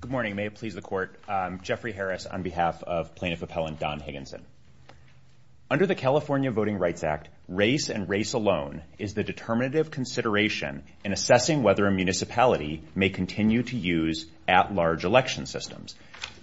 Good morning, may it please the court, I'm Jeffrey Harris on behalf of Plaintiff Appellant Don Higginson. Under the California Voting Rights Act, race and race alone is the determinative consideration in assessing whether a municipality may continue to use at-large election systems.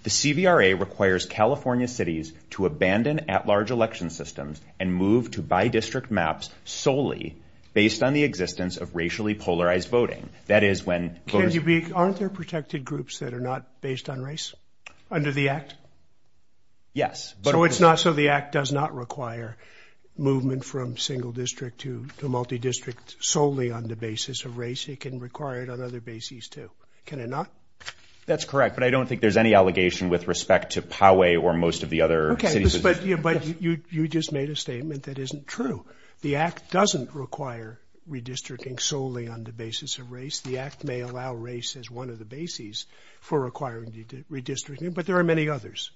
The CVRA requires California cities to abandon at-large election systems and move to bi-district maps solely based on the existence of racially polarized voting. That is when... Can you be... Aren't there protected groups that are not based on race under the act? Yes. So it's not... So the act does not require movement from single district to multi-district solely on the basis of race. It can require it on other bases too, can it not? That's correct, but I don't think there's any allegation with respect to Poway or most of the other... Okay. But you just made a statement that isn't true. The act doesn't require redistricting solely on the basis of race. The act may allow race as one of the bases for requiring redistricting, but there are many others.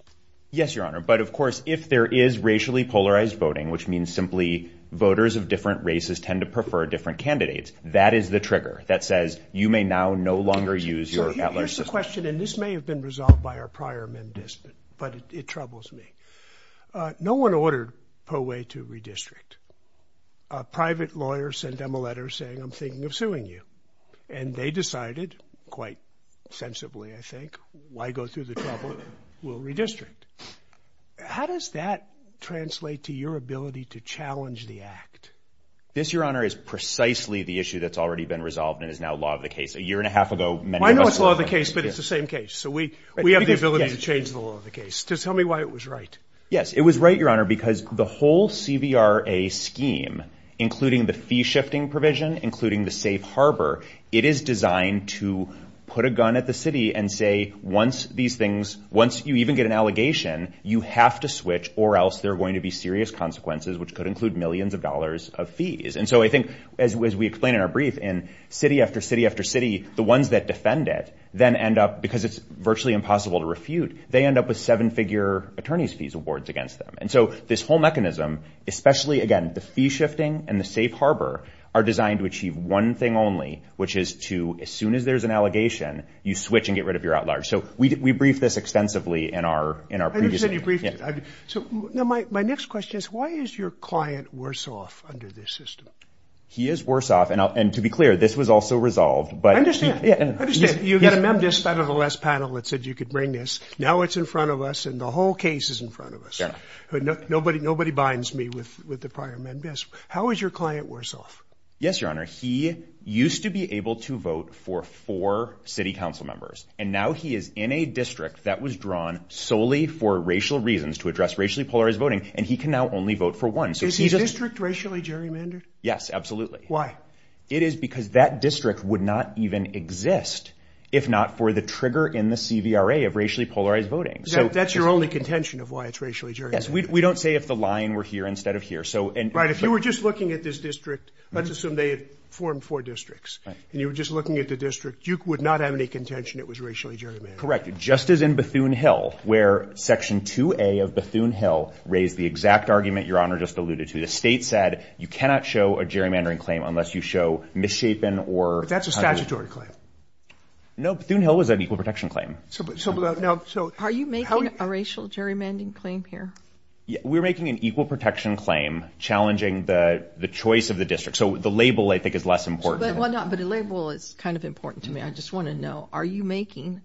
Yes, your honor. But of course, if there is racially polarized voting, which means simply voters of different races tend to prefer different candidates, that is the trigger that says you may now no longer use your at-large system. So here's the question, and this may have been resolved by our prior amendment, but it troubles me. No one ordered Poway to redistrict. Private lawyers sent them a letter saying, I'm thinking of suing you. And they decided quite sensibly, I think, why go through the trouble, we'll redistrict. How does that translate to your ability to challenge the act? This your honor is precisely the issue that's already been resolved and is now law of the case. A year and a half ago, many of us... I know it's law of the case, but it's the same case. So we have the ability to change the law of the case. Just tell me why it was right. Yes, it was right, your honor, because the whole CVRA scheme, including the fee shifting provision, including the safe harbor, it is designed to put a gun at the city and say, once these things, once you even get an allegation, you have to switch or else there are going to be serious consequences, which could include millions of dollars of fees. And so I think, as we explained in our brief, in city after city after city, the ones that are virtually impossible to refute, they end up with seven figure attorney's fees awards against them. And so this whole mechanism, especially, again, the fee shifting and the safe harbor are designed to achieve one thing only, which is to, as soon as there's an allegation, you switch and get rid of your outlars. So we briefed this extensively in our... I understand you briefed it. So my next question is, why is your client worse off under this system? And to be clear, this was also resolved, but... I understand. I understand. You've got a MemDisc out of the last panel that said you could bring this. Now it's in front of us and the whole case is in front of us. Nobody binds me with the prior MemDisc. How is your client worse off? Yes, Your Honor. He used to be able to vote for four city council members, and now he is in a district that was drawn solely for racial reasons to address racially polarized voting, and he can now only vote for one. So he doesn't... Is his district racially gerrymandered? Yes, absolutely. Why? It is because that district would not even exist if not for the trigger in the CVRA of racially polarized voting. That's your only contention of why it's racially gerrymandered? Yes. We don't say if the line were here instead of here. So... Right. If you were just looking at this district, let's assume they had formed four districts, and you were just looking at the district, you would not have any contention it was racially gerrymandered. Correct. Just as in Bethune Hill, where Section 2A of Bethune Hill raised the exact argument Your Honor just alluded to. The state said you cannot show a gerrymandering claim unless you show misshapen or... That's a statutory claim. No, Bethune Hill was an equal protection claim. Are you making a racial gerrymandering claim here? We're making an equal protection claim challenging the choice of the district. So the label, I think, is less important. But the label is kind of important to me. I just want to know, are you making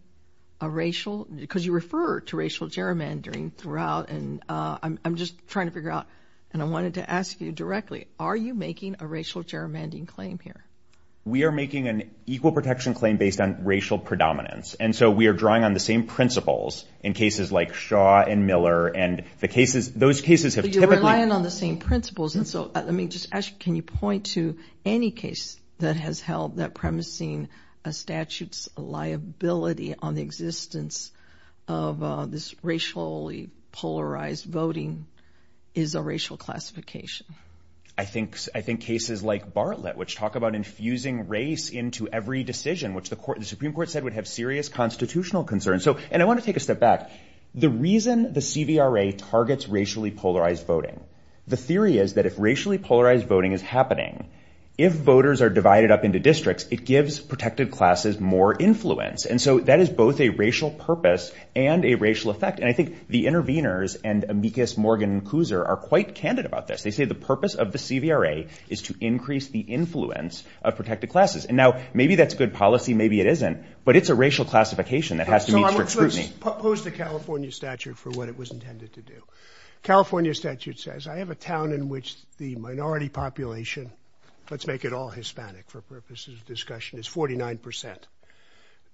a racial... Because you refer to racial gerrymandering throughout, and I'm just trying to figure it out. And I wanted to ask you directly, are you making a racial gerrymandering claim here? We are making an equal protection claim based on racial predominance. And so we are drawing on the same principles in cases like Shaw and Miller, and those cases have typically... But you're relying on the same principles. And so let me just ask, can you point to any case that has held that premising a statute's on the existence of this racially polarized voting is a racial classification? I think cases like Bartlett, which talk about infusing race into every decision, which the Supreme Court said would have serious constitutional concerns. And I want to take a step back. The reason the CVRA targets racially polarized voting, the theory is that if racially polarized voting is happening, if voters are divided up into districts, it gives protected classes more influence. And so that is both a racial purpose and a racial effect. And I think the interveners and amicus Morgan and Kuser are quite candid about this. They say the purpose of the CVRA is to increase the influence of protected classes. And now, maybe that's good policy, maybe it isn't, but it's a racial classification that has to meet strict scrutiny. So I'm going to pose the California statute for what it was intended to do. California statute says, I have a town in which the minority population, let's make it all Hispanic for purposes of discussion, is 49%.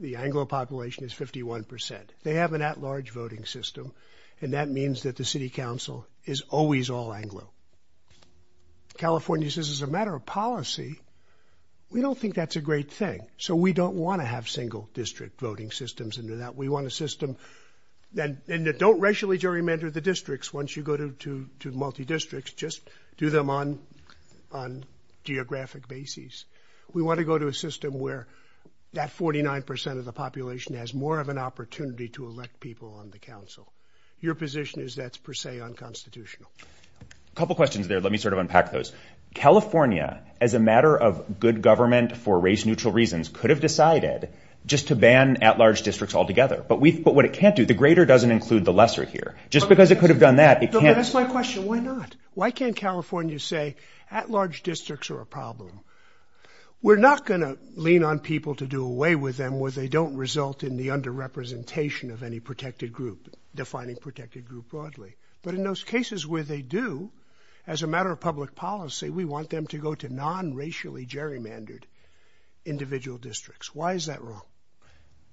The Anglo population is 51%. They have an at-large voting system. And that means that the city council is always all Anglo. California says, as a matter of policy, we don't think that's a great thing. So we don't want to have single district voting systems into that. We want a system that don't racially gerrymander the districts. Once you go to multi-districts, just do them on geographic basis. We want to go to a system where that 49% of the population has more of an opportunity to elect people on the council. Your position is that's per se unconstitutional. A couple questions there. Let me sort of unpack those. California, as a matter of good government for race-neutral reasons, could have decided just to ban at-large districts altogether. But what it can't do, the greater doesn't include the lesser here. Just because it could have done that, it can't... Okay, that's my question. Why not? Why can't California say, at-large districts are a problem? We're not going to lean on people to do away with them where they don't result in the under-representation of any protected group, defining protected group broadly. But in those cases where they do, as a matter of public policy, we want them to go to non-racially gerrymandered individual districts. Why is that wrong?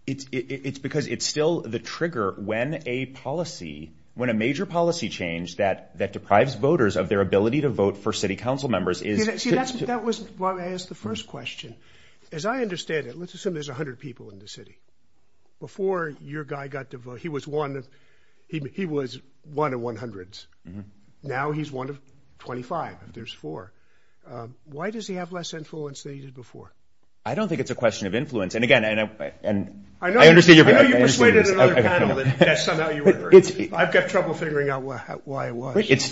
It's because it's still the trigger when a policy, when a major policy change that deprives voters of their ability to vote for city council members is... See, that's why I asked the first question. As I understand it, let's assume there's 100 people in the city. Before your guy got to vote, he was one of 100s. Now he's one of 25, and there's four. Why does he have less influence than he did before? I don't think it's a question of influence. I know you persuaded another panel that somehow you were right, but I've got trouble figuring out why it was. It's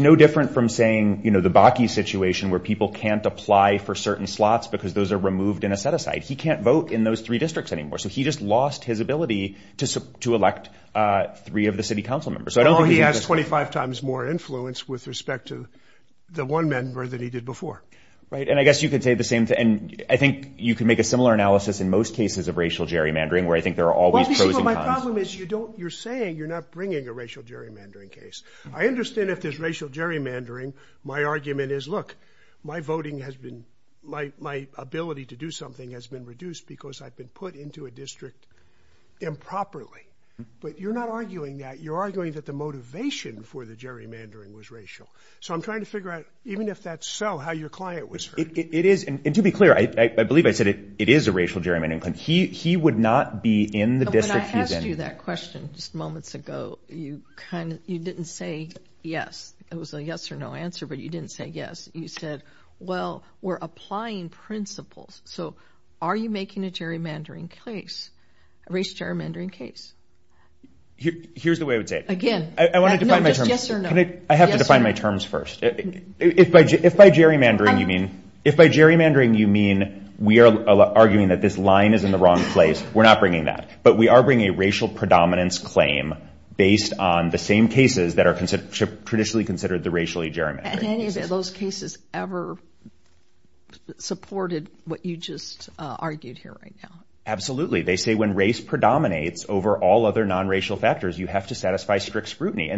no different from saying the Bakke situation where people can't apply for certain slots because those are removed in a set-aside. He can't vote in those three districts anymore, so he just lost his ability to elect three of the city council members. Oh, he has 25 times more influence with respect to the one member than he did before. I guess you could say the same thing. I think you can make a similar analysis in most cases of racial gerrymandering, where I think there are always pros and cons. Well, you see, my problem is you're saying you're not bringing a racial gerrymandering case. I understand if there's racial gerrymandering. My argument is, look, my voting has been... My ability to do something has been reduced because I've been put into a district improperly, but you're not arguing that. You're arguing that the motivation for the gerrymandering was racial, so I'm trying to It is, and to be clear, I believe I said it is a racial gerrymandering claim. He would not be in the district he's in. But I asked you that question just moments ago. You kind of... You didn't say yes. It was a yes or no answer, but you didn't say yes. You said, well, we're applying principles. So are you making a gerrymandering case, a racial gerrymandering case? Here's the way I would say it. Again. I want to define my terms. No, just yes or no. Can I... I have to define my terms first. If by gerrymandering you mean, if by gerrymandering you mean we are arguing that this line is in the wrong place, we're not bringing that. But we are bringing a racial predominance claim based on the same cases that are traditionally considered the racially gerrymandered cases. And any of those cases ever supported what you just argued here right now? Absolutely. They say when race predominates over all other nonracial factors, you have to satisfy strict In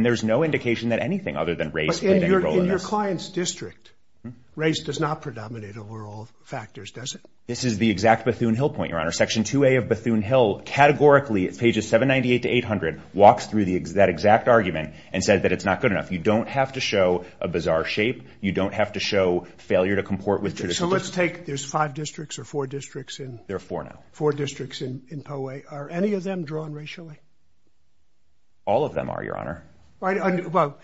your client's district, race does not predominate over all factors, does it? This is the exact Bethune Hill point, Your Honor. Section 2A of Bethune Hill categorically, pages 798 to 800, walks through that exact argument and says that it's not good enough. You don't have to show a bizarre shape. You don't have to show failure to comport with traditional... So let's take... There's five districts or four districts in... There are four now. Four districts in Poway. Are any of them drawn racially? All of them are, Your Honor. All of them are. All right. Well,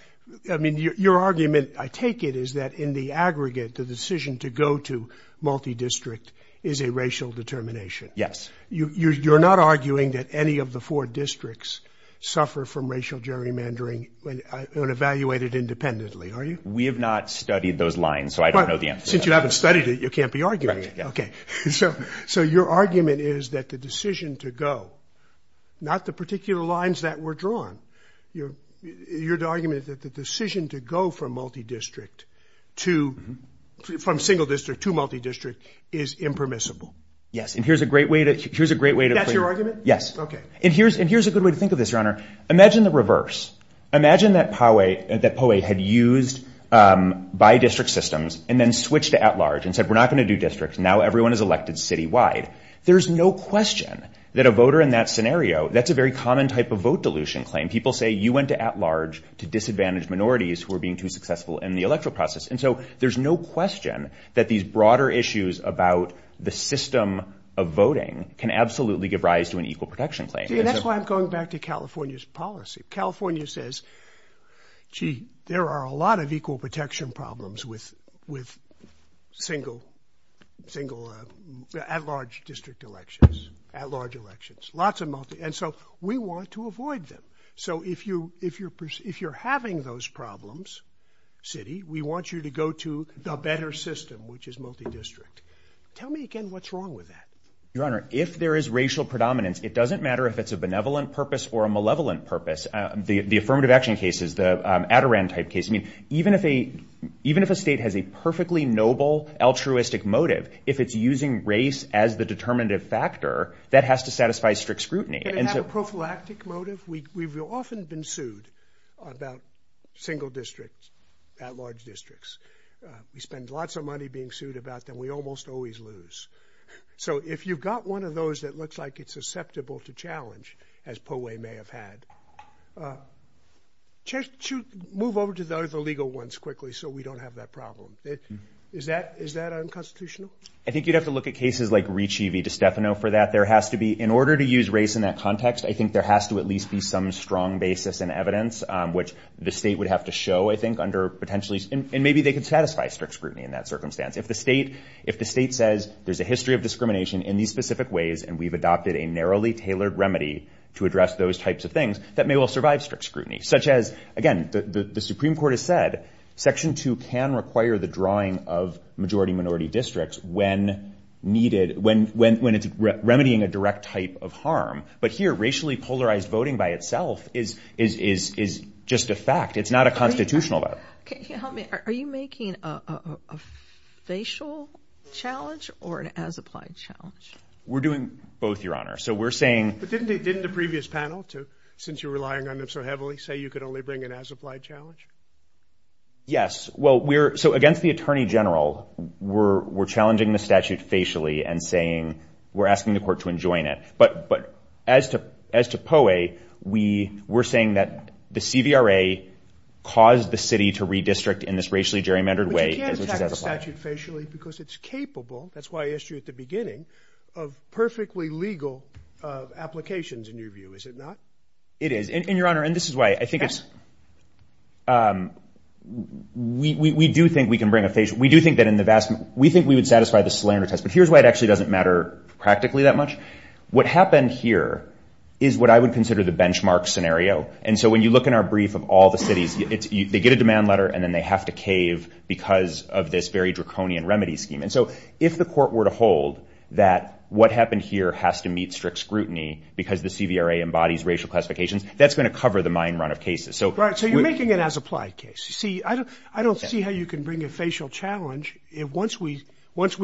I mean, your argument, I take it, is that in the aggregate, the decision to go to multi-district is a racial determination. Yes. You're not arguing that any of the four districts suffer from racial gerrymandering and evaluate it independently, are you? We have not studied those lines, so I don't know the answer to that. Since you haven't studied it, you can't be arguing it. Okay. So your argument is that the decision to go, not the particular lines that were drawn, your argument is that the decision to go from multi-district to... From single district to multi-district is impermissible. Yes. And here's a great way to... Here's a great way to... That's your argument? Yes. Okay. And here's a good way to think of this, Your Honor. Imagine the reverse. Imagine that Poway had used bi-district systems and then switched to at-large and said, we're not going to do districts. Now everyone is elected citywide. There's no question that a voter in that scenario, that's a very common type of vote dilution claim. People say, you went to at-large to disadvantage minorities who are being too successful in the electoral process. And so there's no question that these broader issues about the system of voting can absolutely give rise to an equal protection claim. See, that's why I'm going back to California's policy. California says, gee, there are a lot of equal protection problems with single, single at-large district elections, at-large elections, lots of multi... And so we want to avoid them. So if you're having those problems, city, we want you to go to the better system, which is multi-district. Tell me again, what's wrong with that? Your Honor, if there is racial predominance, it doesn't matter if it's a benevolent purpose or a malevolent purpose. The affirmative action cases, the Adirondack type case, I mean, even if a state has a perfectly noble altruistic motive, if it's using race as the determinative factor, that has to satisfy strict scrutiny. If they have a prophylactic motive, we've often been sued about single districts, at-large districts. We spend lots of money being sued about them. We almost always lose. So if you've got one of those that looks like it's susceptible to challenge, as Poway may have had, move over to the other legal ones quickly so we don't have that problem. Is that unconstitutional? I think you'd have to look at cases like Riccivi DiStefano for that. In order to use race in that context, I think there has to at least be some strong basis and evidence, which the state would have to show, I think, under potentially—and maybe they could satisfy strict scrutiny in that circumstance. If the state says there's a history of discrimination in these specific ways and we've adopted a narrowly tailored remedy to address those types of things, that may well survive strict scrutiny. Such as, again, the Supreme Court has said Section 2 can require the drawing of majority-minority districts when it's remedying a direct type of harm. But here, racially polarized voting by itself is just a fact. It's not a constitutional vote. Can you help me? Are you making a facial challenge or an as-applied challenge? We're doing both, Your Honor. So we're saying— But didn't the previous panel, since you're relying on them so heavily, say you could only bring an as-applied challenge? Yes. Well, so against the Attorney General, we're challenging the statute facially and saying we're asking the court to enjoin it. But as to POE, we're saying that the CVRA caused the city to redistrict in this racially gerrymandered way, which is as-applied. But you can't attack the statute facially because it's capable—that's why I asked you at the beginning—of perfectly legal applications, in your view, is it not? It is. And Your Honor, and this is why I think it's—we do think we can bring a facial—we do think that in the vast—we think we would satisfy the Solander test, but here's why it actually doesn't matter practically that much. What happened here is what I would consider the benchmark scenario. And so when you look in our brief of all the cities, they get a demand letter and then they have to cave because of this very draconian remedy scheme. And so if the court were to hold that what happened here has to meet strict scrutiny because the CVRA embodies racial classifications, that's going to cover the mine run of cases. So— Right. So you're making an as-applied case. See, I don't see how you can bring a facial challenge once we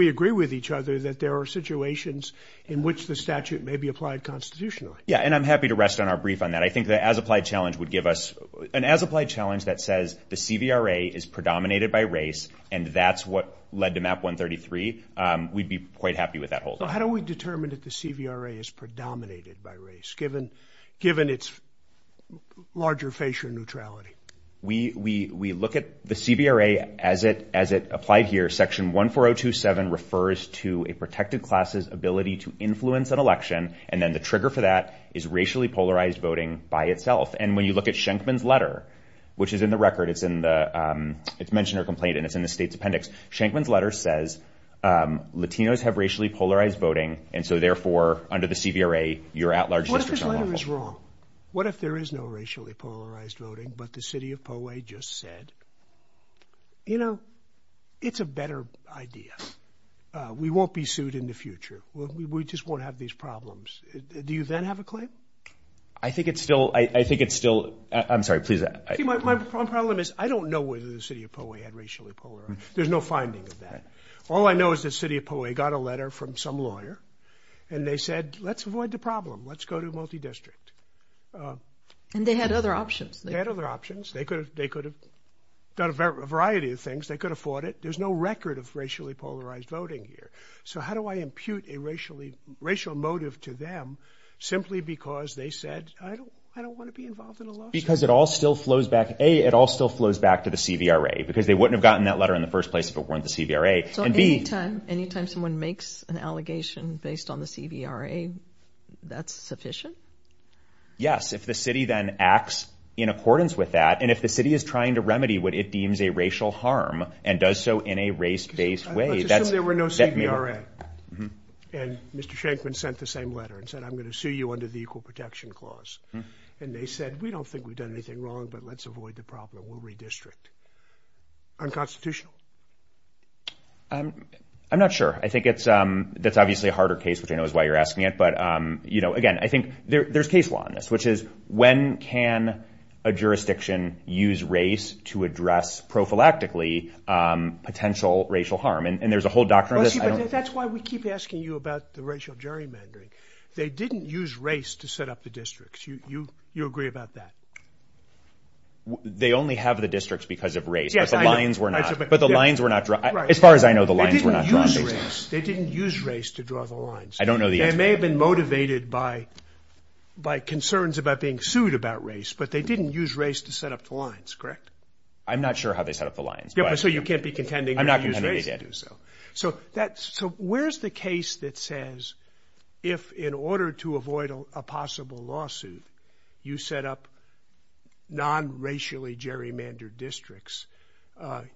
agree with each other that there are situations in which the statute may be applied constitutionally. Yeah. And I'm happy to rest on our brief on that. I think the as-applied challenge would give us an as-applied challenge that says the CVRA is predominated by race and that's what led to MAP 133, we'd be quite happy with that holding. So how do we determine that the CVRA is predominated by race, given its larger facial neutrality? We look at the CVRA as it applied here, section 14027 refers to a protected class's ability to influence an election. And then the trigger for that is racially polarized voting by itself. And when you look at Schenkman's letter, which is in the record, it's in the, it's mention or complaint and it's in the state's appendix, Schenkman's letter says Latinos have racially polarized voting. And so therefore under the CVRA, you're at large districts. What if his letter is wrong? What if there is no racially polarized voting, but the city of Poway just said, you know, it's a better idea. We won't be sued in the future. We just won't have these problems. Do you then have a claim? I think it's still, I think it's still, I'm sorry, please. My problem is I don't know whether the city of Poway had racially polarized. There's no finding of that. All I know is the city of Poway got a letter from some lawyer and they said, let's avoid the problem. Let's go to multi district. And they had other options. They had other options. They could have, they could have done a variety of things. They could afford it. There's no record of racially polarized voting here. So how do I impute a racially, racial motive to them simply because they said, I don't, I don't want to be involved in a lawsuit. Because it all still flows back, A, it all still flows back to the CVRA because they So anytime, anytime someone makes an allegation based on the CVRA, that's sufficient? Yes. If the city then acts in accordance with that and if the city is trying to remedy what it deems a racial harm and does so in a race based way, that's Let's assume there were no CVRA. And Mr. Shankman sent the same letter and said, I'm going to sue you under the Equal Protection Clause. And they said, we don't think we've done anything wrong, but let's avoid the problem. We'll redistrict. Unconstitutional. I'm not sure. I think it's, that's obviously a harder case, which I know is why you're asking it. But you know, again, I think there's case law on this, which is when can a jurisdiction use race to address prophylactically potential racial harm? And there's a whole doctrine of this. That's why we keep asking you about the racial gerrymandering. They didn't use race to set up the districts. You agree about that? They only have the districts because of race, but the lines were not, but the lines were not drawn. As far as I know, the lines were not drawn. They didn't use race to draw the lines. I don't know. They may have been motivated by, by concerns about being sued about race, but they didn't use race to set up the lines. Correct. I'm not sure how they set up the lines. Yeah. So you can't be contending. I'm not going to do so. So that's so where's the case that says if in order to avoid a possible lawsuit, you set up non-racially gerrymandered districts,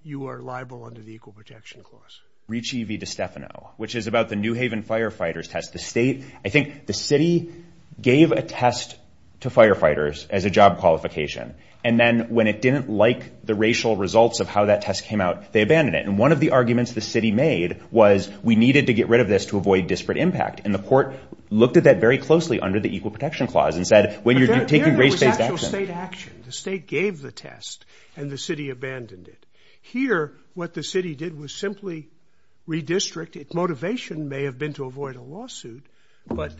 you are liable under the Equal Protection Clause? Ricci v. DiStefano, which is about the New Haven firefighters test. The state, I think the city gave a test to firefighters as a job qualification, and then when it didn't like the racial results of how that test came out, they abandoned it. And one of the arguments the city made was we needed to get rid of this to avoid disparate impact. And the court looked at that very closely under the Equal Protection Clause and said, When you're taking race-based action. But there was actual state action. The state gave the test and the city abandoned it. Here what the city did was simply redistrict. Its motivation may have been to avoid a lawsuit, but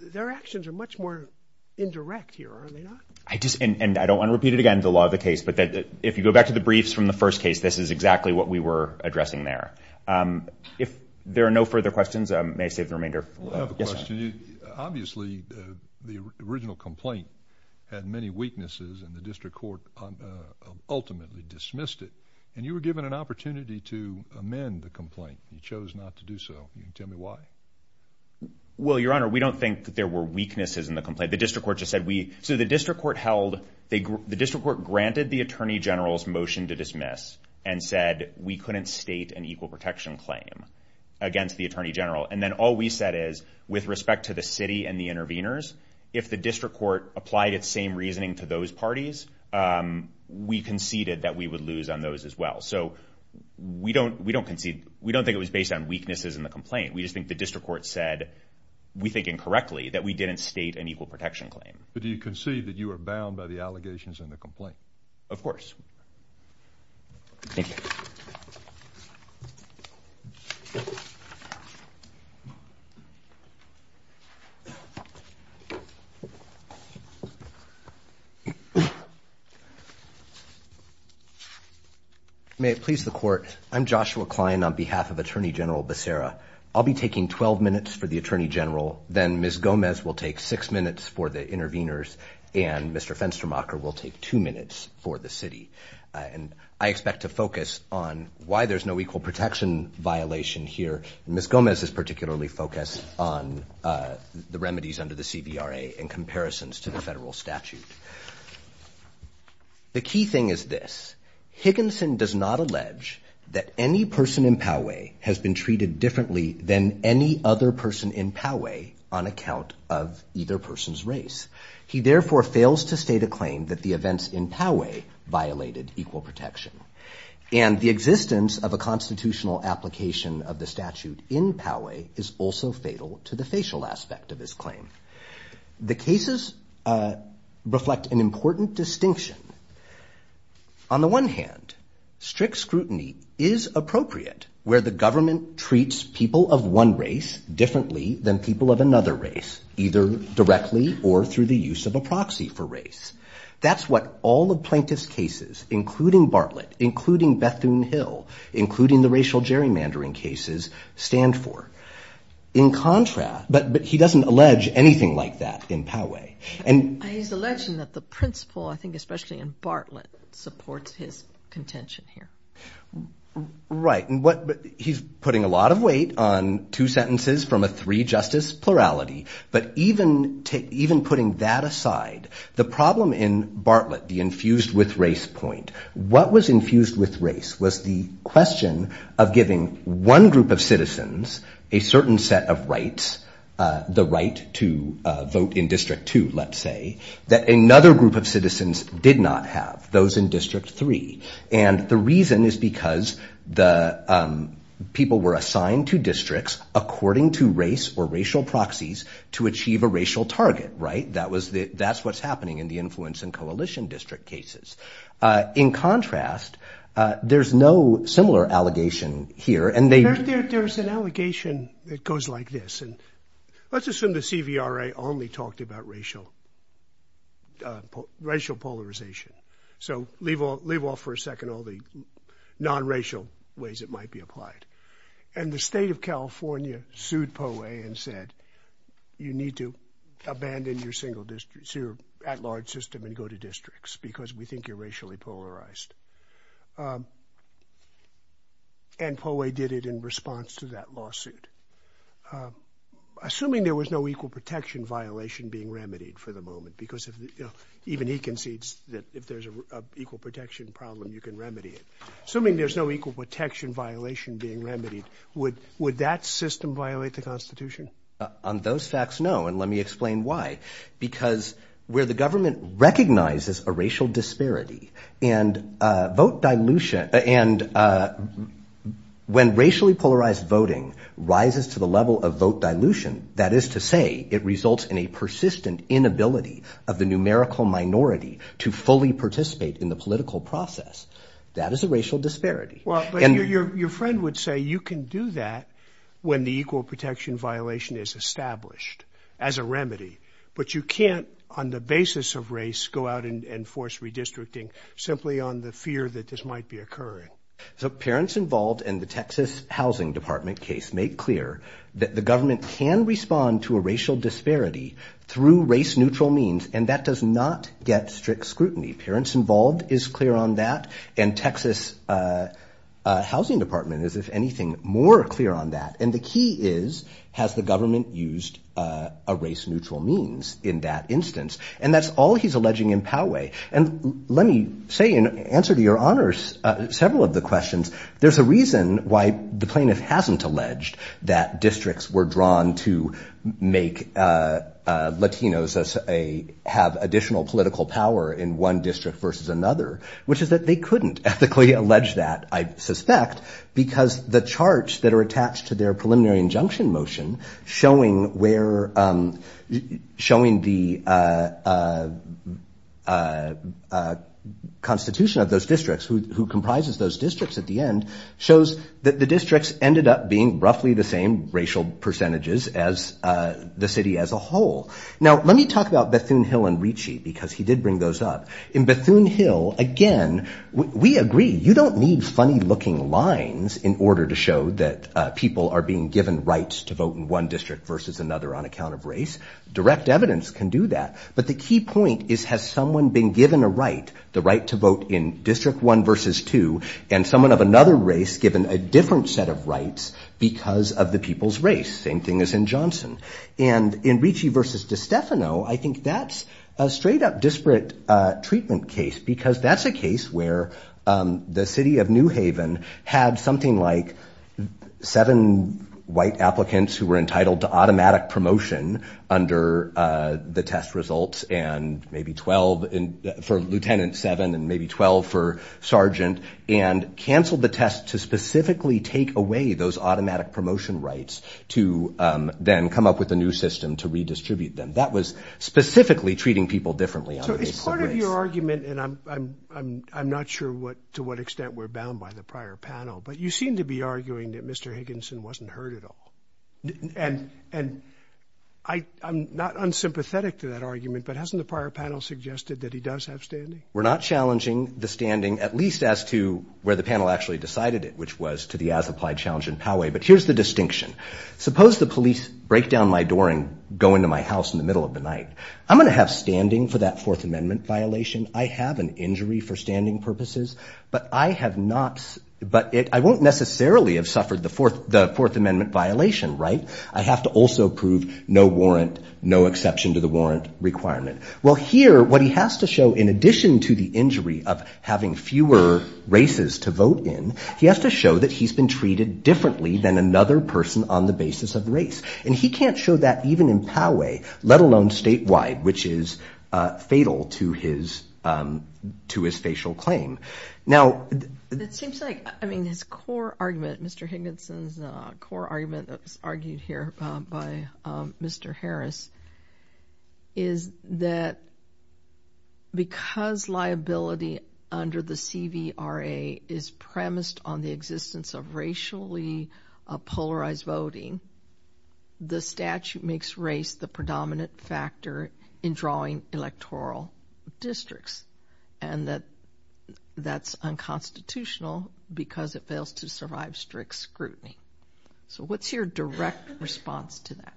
their actions are much more indirect here, are they not? I just, and I don't want to repeat it again, the law of the case, but if you go back to the briefs from the first case, this is exactly what we were addressing there. If there are no further questions, may I save the remainder? Yes, sir. I have a question. Obviously, the original complaint had many weaknesses and the district court ultimately dismissed it. And you were given an opportunity to amend the complaint, you chose not to do so. Can you tell me why? Well, Your Honor, we don't think that there were weaknesses in the complaint. The district court just said we, so the district court held, the district court granted the Attorney General's motion to dismiss and said we couldn't state an equal protection claim against the Attorney General. And then all we said is, with respect to the city and the interveners, if the district court applied its same reasoning to those parties, we conceded that we would lose on those as well. So we don't, we don't concede, we don't think it was based on weaknesses in the complaint. We just think the district court said, we think incorrectly, that we didn't state an equal protection claim. But do you concede that you are bound by the allegations in the complaint? Of course. Thank you. May it please the court. I'm Joshua Klein on behalf of Attorney General Becerra. I'll be taking 12 minutes for the Attorney General, then Ms. Gomez will take six minutes for the interveners, and Mr. Fenstermacher will take two minutes for the city. And I expect to focus on why there's no equal protection violation here. Ms. Gomez is particularly focused on the remedies under the CVRA in comparisons to the federal statute. The key thing is this, Higginson does not allege that any person in Poway has been treated differently than any other person in Poway on account of either person's race. He therefore fails to state a claim that the events in Poway violated equal protection. And the existence of a constitutional application of the statute in Poway is also fatal to the facial aspect of his claim. The cases reflect an important distinction. On the one hand, strict scrutiny is appropriate where the government treats people of one or another race, either directly or through the use of a proxy for race. That's what all the plaintiff's cases, including Bartlett, including Bethune-Hill, including the racial gerrymandering cases stand for. In contrast, but he doesn't allege anything like that in Poway. And he's alleging that the principle, I think especially in Bartlett, supports his contention here. Right. He's putting a lot of weight on two sentences from a three-justice plurality. But even putting that aside, the problem in Bartlett, the infused with race point, what was infused with race was the question of giving one group of citizens a certain set of rights, the right to vote in District 2, let's say, that another group of citizens did not have, those in District 3. And the reason is because the people were assigned to districts according to race or racial proxies to achieve a racial target. Right. That was the, that's what's happening in the influence and coalition district cases. In contrast, there's no similar allegation here. And there's an allegation that goes like this, and let's assume the CVRA only talked about racial, racial polarization. So leave all, leave off for a second, all the non-racial ways it might be applied. And the state of California sued Poway and said, you need to abandon your single district, your at-large system and go to districts because we think you're racially polarized. And Poway did it in response to that lawsuit. Assuming there was no equal protection violation being remedied for the moment, because even he concedes that if there's an equal protection problem, you can remedy it. Assuming there's no equal protection violation being remedied, would, would that system violate the constitution? On those facts, no. And let me explain why. Because where the government recognizes a racial disparity and a vote dilution, and when racially polarized voting rises to the level of vote dilution, that is to say it results in a persistent inability of the numerical minority to fully participate in the political process. That is a racial disparity. Well, but your, your, your friend would say you can do that when the equal protection violation is established as a remedy, but you can't on the basis of race go out and force redistricting simply on the fear that this might be occurring. So parents involved in the Texas Housing Department case made clear that the government can respond to a racial disparity through race neutral means, and that does not get strict scrutiny. Parents involved is clear on that, and Texas Housing Department is, if anything, more clear on that. And the key is, has the government used a race neutral means in that instance? And that's all he's alleging in Poway. And let me say, in answer to your honors, several of the questions, there's a reason why the plaintiff hasn't alleged that districts were drawn to make Latinos as a, have additional political power in one district versus another, which is that they couldn't ethically allege that, I suspect, because the charts that are attached to their preliminary injunction motion showing where, showing the constitution of those districts, who, who comprises those the districts ended up being roughly the same racial percentages as the city as a whole. Now let me talk about Bethune Hill and Ricci, because he did bring those up. In Bethune Hill, again, we agree, you don't need funny looking lines in order to show that people are being given rights to vote in one district versus another on account of race. Direct evidence can do that. But the key point is, has someone been given a right, the right to vote in district one versus two, and someone of another race given a different set of rights because of the people's race? Same thing as in Johnson. And in Ricci versus DiStefano, I think that's a straight up disparate treatment case, because that's a case where the city of New Haven had something like seven white applicants who were entitled to automatic promotion under the test results, and maybe 12 for Lieutenant seven and maybe 12 for Sergeant, and canceled the test to specifically take away those automatic promotion rights to then come up with a new system to redistribute them. That was specifically treating people differently. So it's part of your argument, and I'm, I'm, I'm not sure what, to what extent we're bound by the prior panel, but you seem to be arguing that Mr. Higginson wasn't heard at all. And, and I, I'm not unsympathetic to that argument, but hasn't the prior panel suggested that he does have standing? We're not challenging the standing, at least as to where the panel actually decided it, which was to the as-applied challenge in Poway. But here's the distinction. Suppose the police break down my door and go into my house in the middle of the night. I'm going to have standing for that Fourth Amendment violation. I have an injury for standing purposes, but I have not, but it, I won't necessarily have suffered the Fourth, the Fourth Amendment violation, right? I have to also prove no warrant, no exception to the warrant requirement. Well, here, what he has to show in addition to the injury of having fewer races to vote in, he has to show that he's been treated differently than another person on the basis of race. And he can't show that even in Poway, let alone statewide, which is fatal to his, to his facial claim. Now, it seems like, I mean, his core argument, Mr. Harris, is that because liability under the CVRA is premised on the existence of racially polarized voting, the statute makes race the predominant factor in drawing electoral districts and that that's unconstitutional because it fails to survive strict scrutiny. So what's your direct response to that?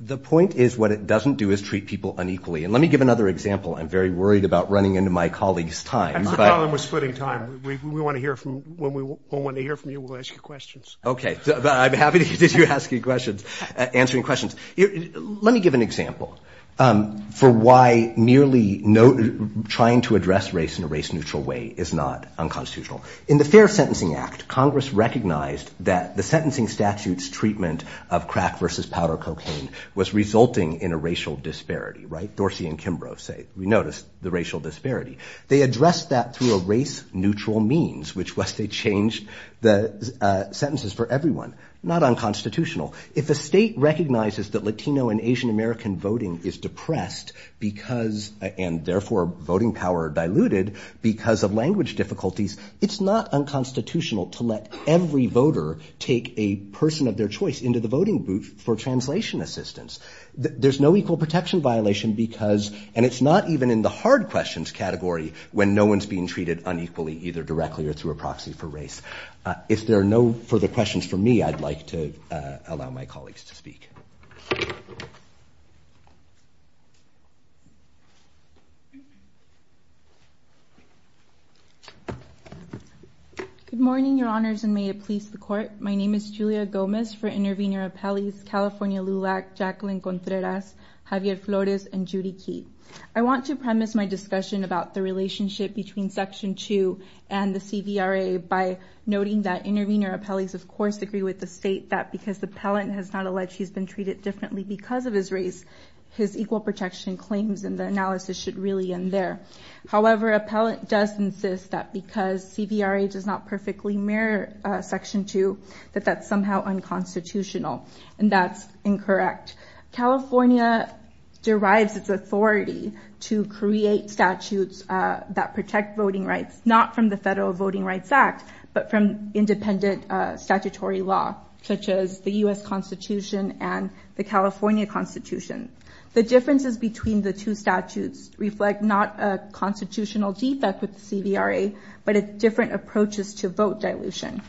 The point is what it doesn't do is treat people unequally. And let me give another example. I'm very worried about running into my colleague's time. That's the problem with splitting time. We want to hear from, when we want to hear from you, we'll ask you questions. Okay. I'm happy to hear you asking questions, answering questions. Let me give an example for why merely trying to address race in a race neutral way is not unconstitutional. In the Fair Sentencing Act, Congress recognized that the sentencing statutes treatment of crack versus powder cocaine was resulting in a racial disparity, right? Dorsey and Kimbrough say we noticed the racial disparity. They addressed that through a race neutral means, which was they changed the sentences for everyone. Not unconstitutional. If a state recognizes that Latino and Asian American voting is depressed because, and therefore voting power diluted because of language difficulties, it's not unconstitutional to let every voter take a person of their choice into the voting booth for translation assistance. There's no equal protection violation because, and it's not even in the hard questions category when no one's being treated unequally, either directly or through a proxy for race. If there are no further questions for me, I'd like to allow my colleagues to speak. Good morning, your honors, and may it please the court. My name is Julia Gomez for Intervenor Appellees, California LULAC, Jacqueline Contreras, Javier Flores, and Judy Keith. I want to premise my discussion about the relationship between Section 2 and the CVRA by noting that Intervenor Appellees, of course, agree with the state that because the appellant has not alleged he's been treated differently because of his race, his equal protection claims and the analysis should really end there. However, appellant does insist that because CVRA does not perfectly mirror Section 2, that that's somehow unconstitutional and that's incorrect. California derives its authority to create statutes that protect voting rights, not from the Federal Voting Rights Act, but from independent statutory law, such as the U.S. Constitution and the California Constitution. The differences between the two statutes reflect not a constitutional defect with the CVRA, but a different approaches to vote dilution.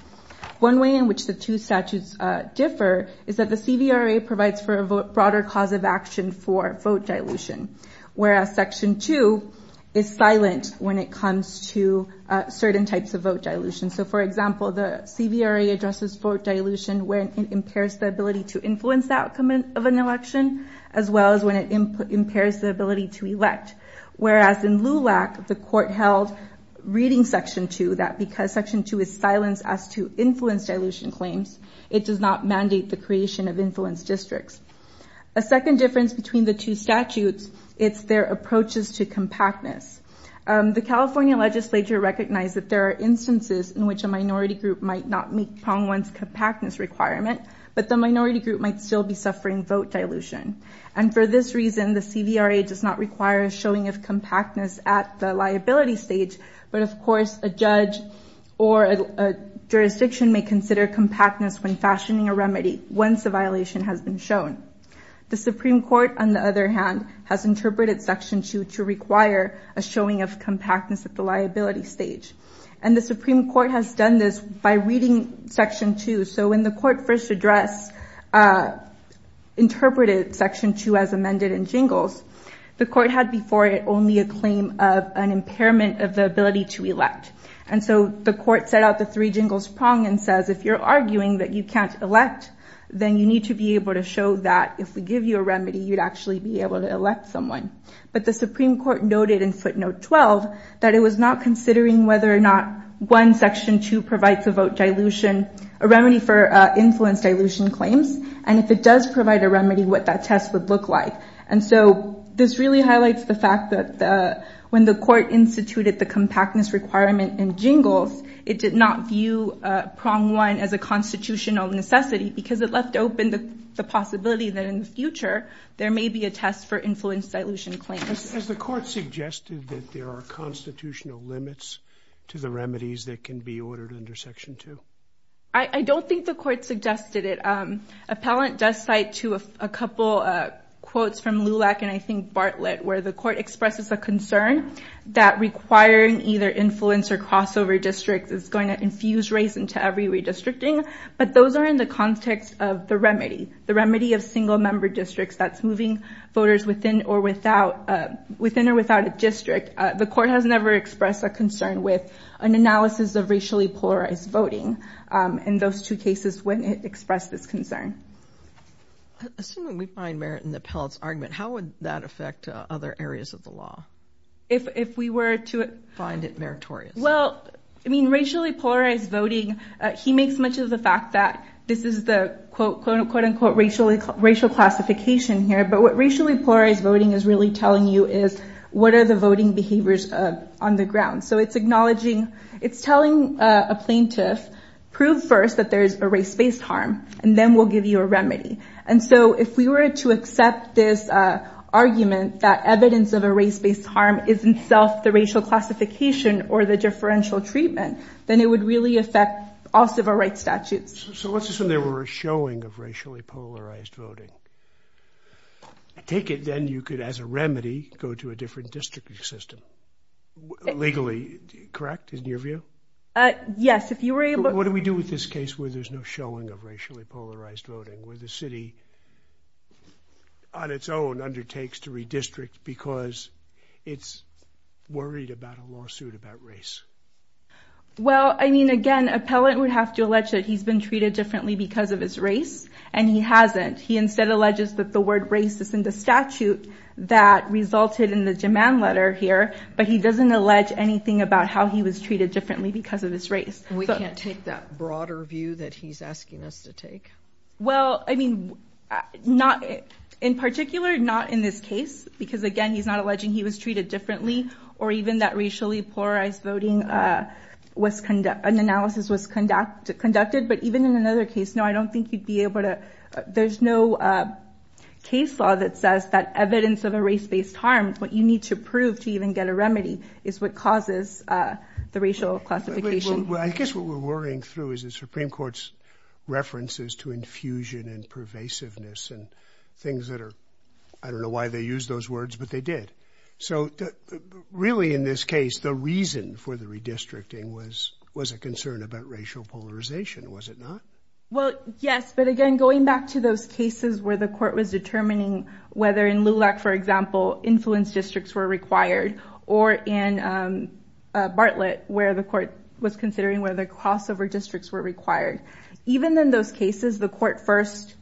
One way in which the two statutes differ is that the CVRA provides for a broader cause of action for vote dilution, whereas Section 2 is silent when it comes to certain types of vote dilution. So, for example, the CVRA addresses vote dilution when it impairs the ability to influence the outcome of an election, as well as when it impairs the ability to elect. Whereas in LULAC, the court held, reading Section 2, that because Section 2 is silent as to influence dilution claims, it does not mandate the creation of influence districts. A second difference between the two statutes, it's their approaches to compactness. The California legislature recognized that there are instances in which a minority group might still be suffering vote dilution. And for this reason, the CVRA does not require a showing of compactness at the liability stage. But of course, a judge or a jurisdiction may consider compactness when fashioning a remedy once a violation has been shown. The Supreme Court, on the other hand, has interpreted Section 2 to require a showing of compactness at the liability stage. And the Supreme Court has done this by reading Section 2. So when the court first addressed, interpreted Section 2 as amended in Jingles, the court had before it only a claim of an impairment of the ability to elect. And so the court set out the three jingles prong and says, if you're arguing that you can't elect, then you need to be able to show that if we give you a remedy, you'd actually be able to elect someone. But the Supreme Court noted in footnote 12 that it was not considering whether or not one Section 2 provides a vote dilution, a remedy for influence dilution claims. And if it does provide a remedy, what that test would look like. And so this really highlights the fact that when the court instituted the compactness requirement in Jingles, it did not view prong one as a constitutional necessity because it left open the possibility that in the future there may be a test for influence dilution claims. Has the court suggested that there are constitutional limits to the remedies that can be ordered under Section 2? I don't think the court suggested it. Appellant does cite to a couple of quotes from Lulac and I think Bartlett, where the court expresses a concern that requiring either influence or crossover districts is going to infuse race into every redistricting. But those are in the context of the remedy, the remedy of single member districts that's moving voters within or without within or without a district. The court has never expressed a concern with an analysis of racially polarized voting in those two cases when it expressed this concern. Assuming we find merit in the appellate's argument, how would that affect other areas of the law? If we were to find it meritorious? Well, I mean, racially polarized voting, he makes much of the fact that this is the quote unquote racial racial classification here. But what racially polarized voting is really telling you is what are the voting behaviors on the ground? So it's acknowledging it's telling a plaintiff, prove first that there is a race based harm and then we'll give you a remedy. And so if we were to accept this argument, that evidence of a race based harm isn't self the racial classification or the differential treatment, then it would really affect all civil rights statutes. So let's assume there were a showing of racially polarized voting. Take it then you could, as a remedy, go to a different district system legally, correct, in your view? Yes, if you were able to. What do we do with this case where there's no showing of racially polarized voting, where the city on its own undertakes to redistrict because it's worried about a lawsuit about race? Well, I mean, again, appellate would have to allege that he's been treated differently because of his race and he hasn't. He instead alleges that the word racist in the statute that resulted in the demand letter here, but he doesn't allege anything about how he was treated differently because of his race. We can't take that broader view that he's asking us to take. Well, I mean, not in particular, not in this case, because again, he's not alleging he was treated differently or even that racially polarized voting was an analysis was conducted. But even in another case, no, I don't think you'd be able to. There's no case law that says that evidence of a race based harm, what you need to prove to even get a remedy is what causes the racial classification. Well, I guess what we're worrying through is the Supreme Court's references to infusion and pervasiveness and things that are I don't know why they use those words, but they did. So really, in this case, the reason for the redistricting was was a concern about racial polarization, was it not? Well, yes. But again, going back to those cases where the court was determining whether in LULAC, for example, influence districts were required or in Bartlett, where the court was considering where the crossover districts were required. Even in those cases, the court first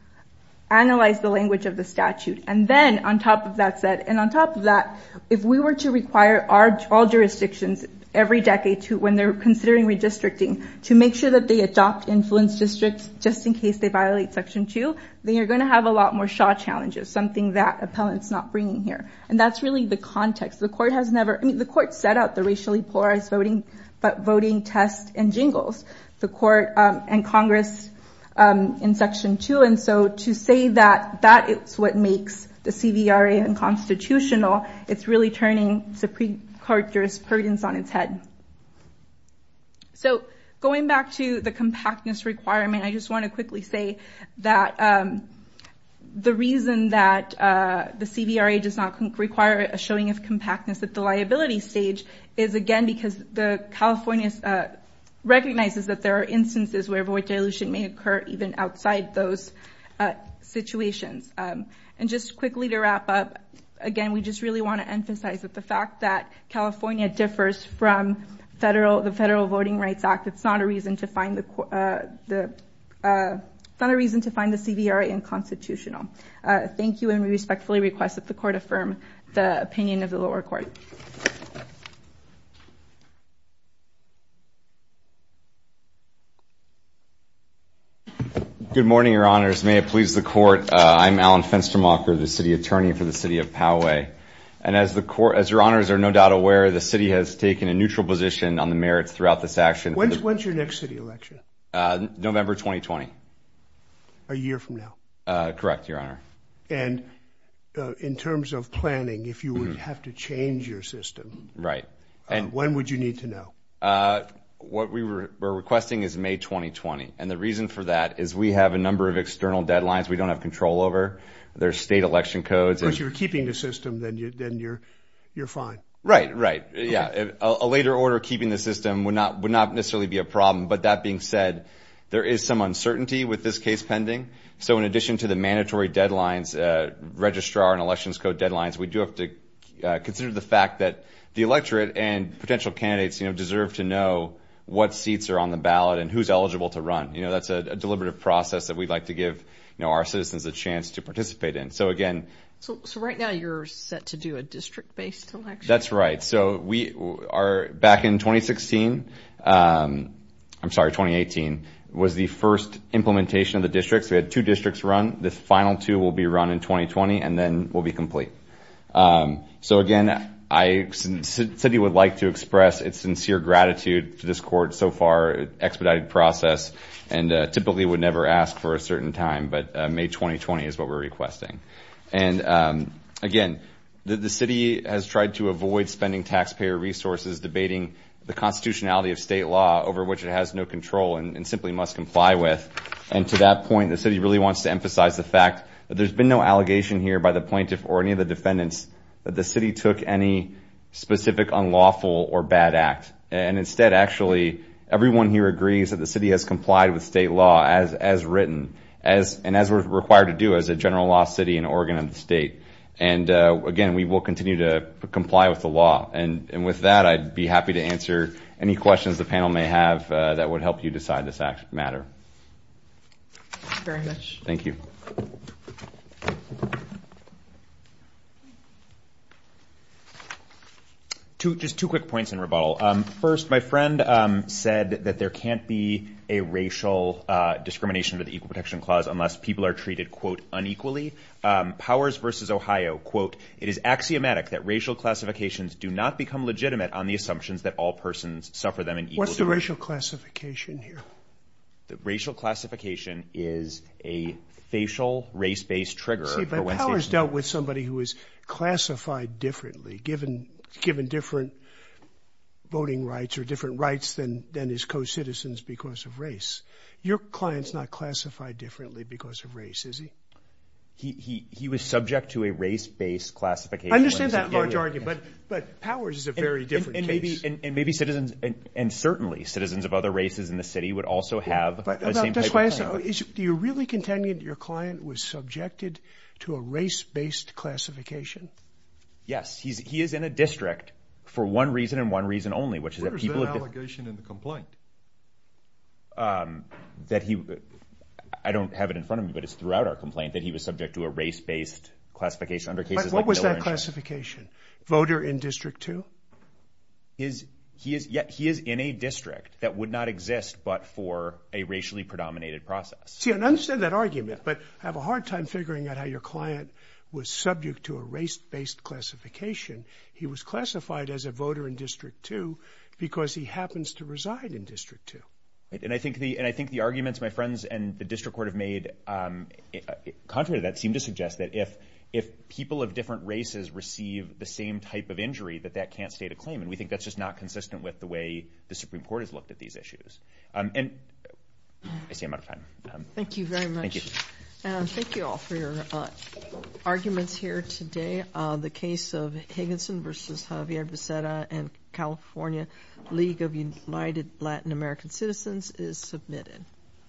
analyzed the language of the statute. And then on top of that said, and on top of that, if we were to require our all jurisdictions every decade to when they're considering redistricting to make sure that they adopt influence districts just in case they violate section two, they are going to have a lot more shot challenges, something that appellants not bringing here. And that's really the context. The court has never I mean, the court set out the racially polarized voting, but voting test and jingles the court and Congress in section two. And so to say that that is what makes the CVRA unconstitutional, it's really turning to precarious burdens on its head. So going back to the compactness requirement, I just want to quickly say that the reason that the CVRA does not require a showing of compactness at the liability stage is, again, because the California recognizes that there are instances where dilution may occur even outside those situations. And just quickly to wrap up again, we just really want to emphasize that the fact that California differs from federal the Federal Voting Rights Act, it's not a reason to find the the not a reason to find the CVRA unconstitutional. Thank you. And we respectfully request that the court affirm the opinion of the lower court. Good morning, your honors, may it please the court. I'm Alan Fenstermacher, the city attorney for the city of Poway. And as the court as your honors are no doubt aware, the city has taken a neutral position on the merits throughout this action. When's when's your next city election? November 2020. A year from now. Correct, your honor. And in terms of planning, if you would have to change your system. Right. And when would you need to know? What we were requesting is May 2020. And the reason for that is we have a number of external deadlines we don't have control over. There's state election codes. If you're keeping the system, then you're then you're you're fine. Right. Right. Yeah. A later order keeping the system would not would not necessarily be a problem. But that being said, there is some uncertainty with this case pending. So in addition to the mandatory deadlines, registrar and elections code deadlines, we do have to consider the fact that the electorate and potential candidates, you know, deserve to know what seats are on the ballot and who's eligible to run. You know, that's a deliberative process that we'd like to give our citizens a chance to participate in. So, again. So right now you're set to do a district based election. That's right. So we are back in 2016. I'm sorry, 2018 was the first implementation of the districts. We had two districts run. The final two will be run in 2020 and then will be complete. So, again, I said he would like to express its sincere gratitude to this court so far expedited process and typically would never ask for a certain time. But May 2020 is what we're requesting. And again, the city has tried to avoid spending taxpayer resources, debating the constitutionality of state law over which it has no control and simply must comply with. And to that point, the city really wants to emphasize the fact that there's been no defendants, that the city took any specific unlawful or bad act. And instead, actually, everyone here agrees that the city has complied with state law as written, as and as we're required to do as a general law city in Oregon and the state. And again, we will continue to comply with the law. And with that, I'd be happy to answer any questions the panel may have that would help you decide this matter. Very much. Thank you. To just two quick points in rebuttal, first, my friend said that there can't be a racial discrimination of the Equal Protection Clause unless people are treated, quote, unequally. Powers versus Ohio, quote, It is axiomatic that racial classifications do not become legitimate on the assumptions that all persons suffer them and what's the racial classification here? The racial classification is a facial race based trigger. Powers dealt with somebody who is classified differently, given given different voting rights or different rights than than his co-citizens because of race. Your client's not classified differently because of race, is he? He was subject to a race based classification. I understand that large argument, but but Powers is a very different case. And maybe citizens and certainly citizens of other races in the city would also have the same type of. Do you really contend that your client was subjected to a race based classification? Yes, he's he is in a district for one reason and one reason only, which is that people have an allegation in the complaint. That he I don't have it in front of me, but it's throughout our complaint that he was subject to a race based classification under cases like what was that classification? Voter in District two. Is he is yet he is in a district that would not exist, but for a racially predominated process, CNN said that argument, but I have a hard time figuring out how your client was subject to a race based classification. He was classified as a voter in District two because he happens to reside in District two. And I think the and I think the arguments my friends and the district court have made, contrary to that, seem to suggest that if if people of different races receive the same type of injury, that that can't state a claim. And we think that's just not consistent with the way the Supreme Court has looked at these issues. And I see I'm out of time. Thank you very much. Thank you all for your arguments here today. The case of Higginson versus Javier Becerra and California League of United Latin American Citizens is submitted.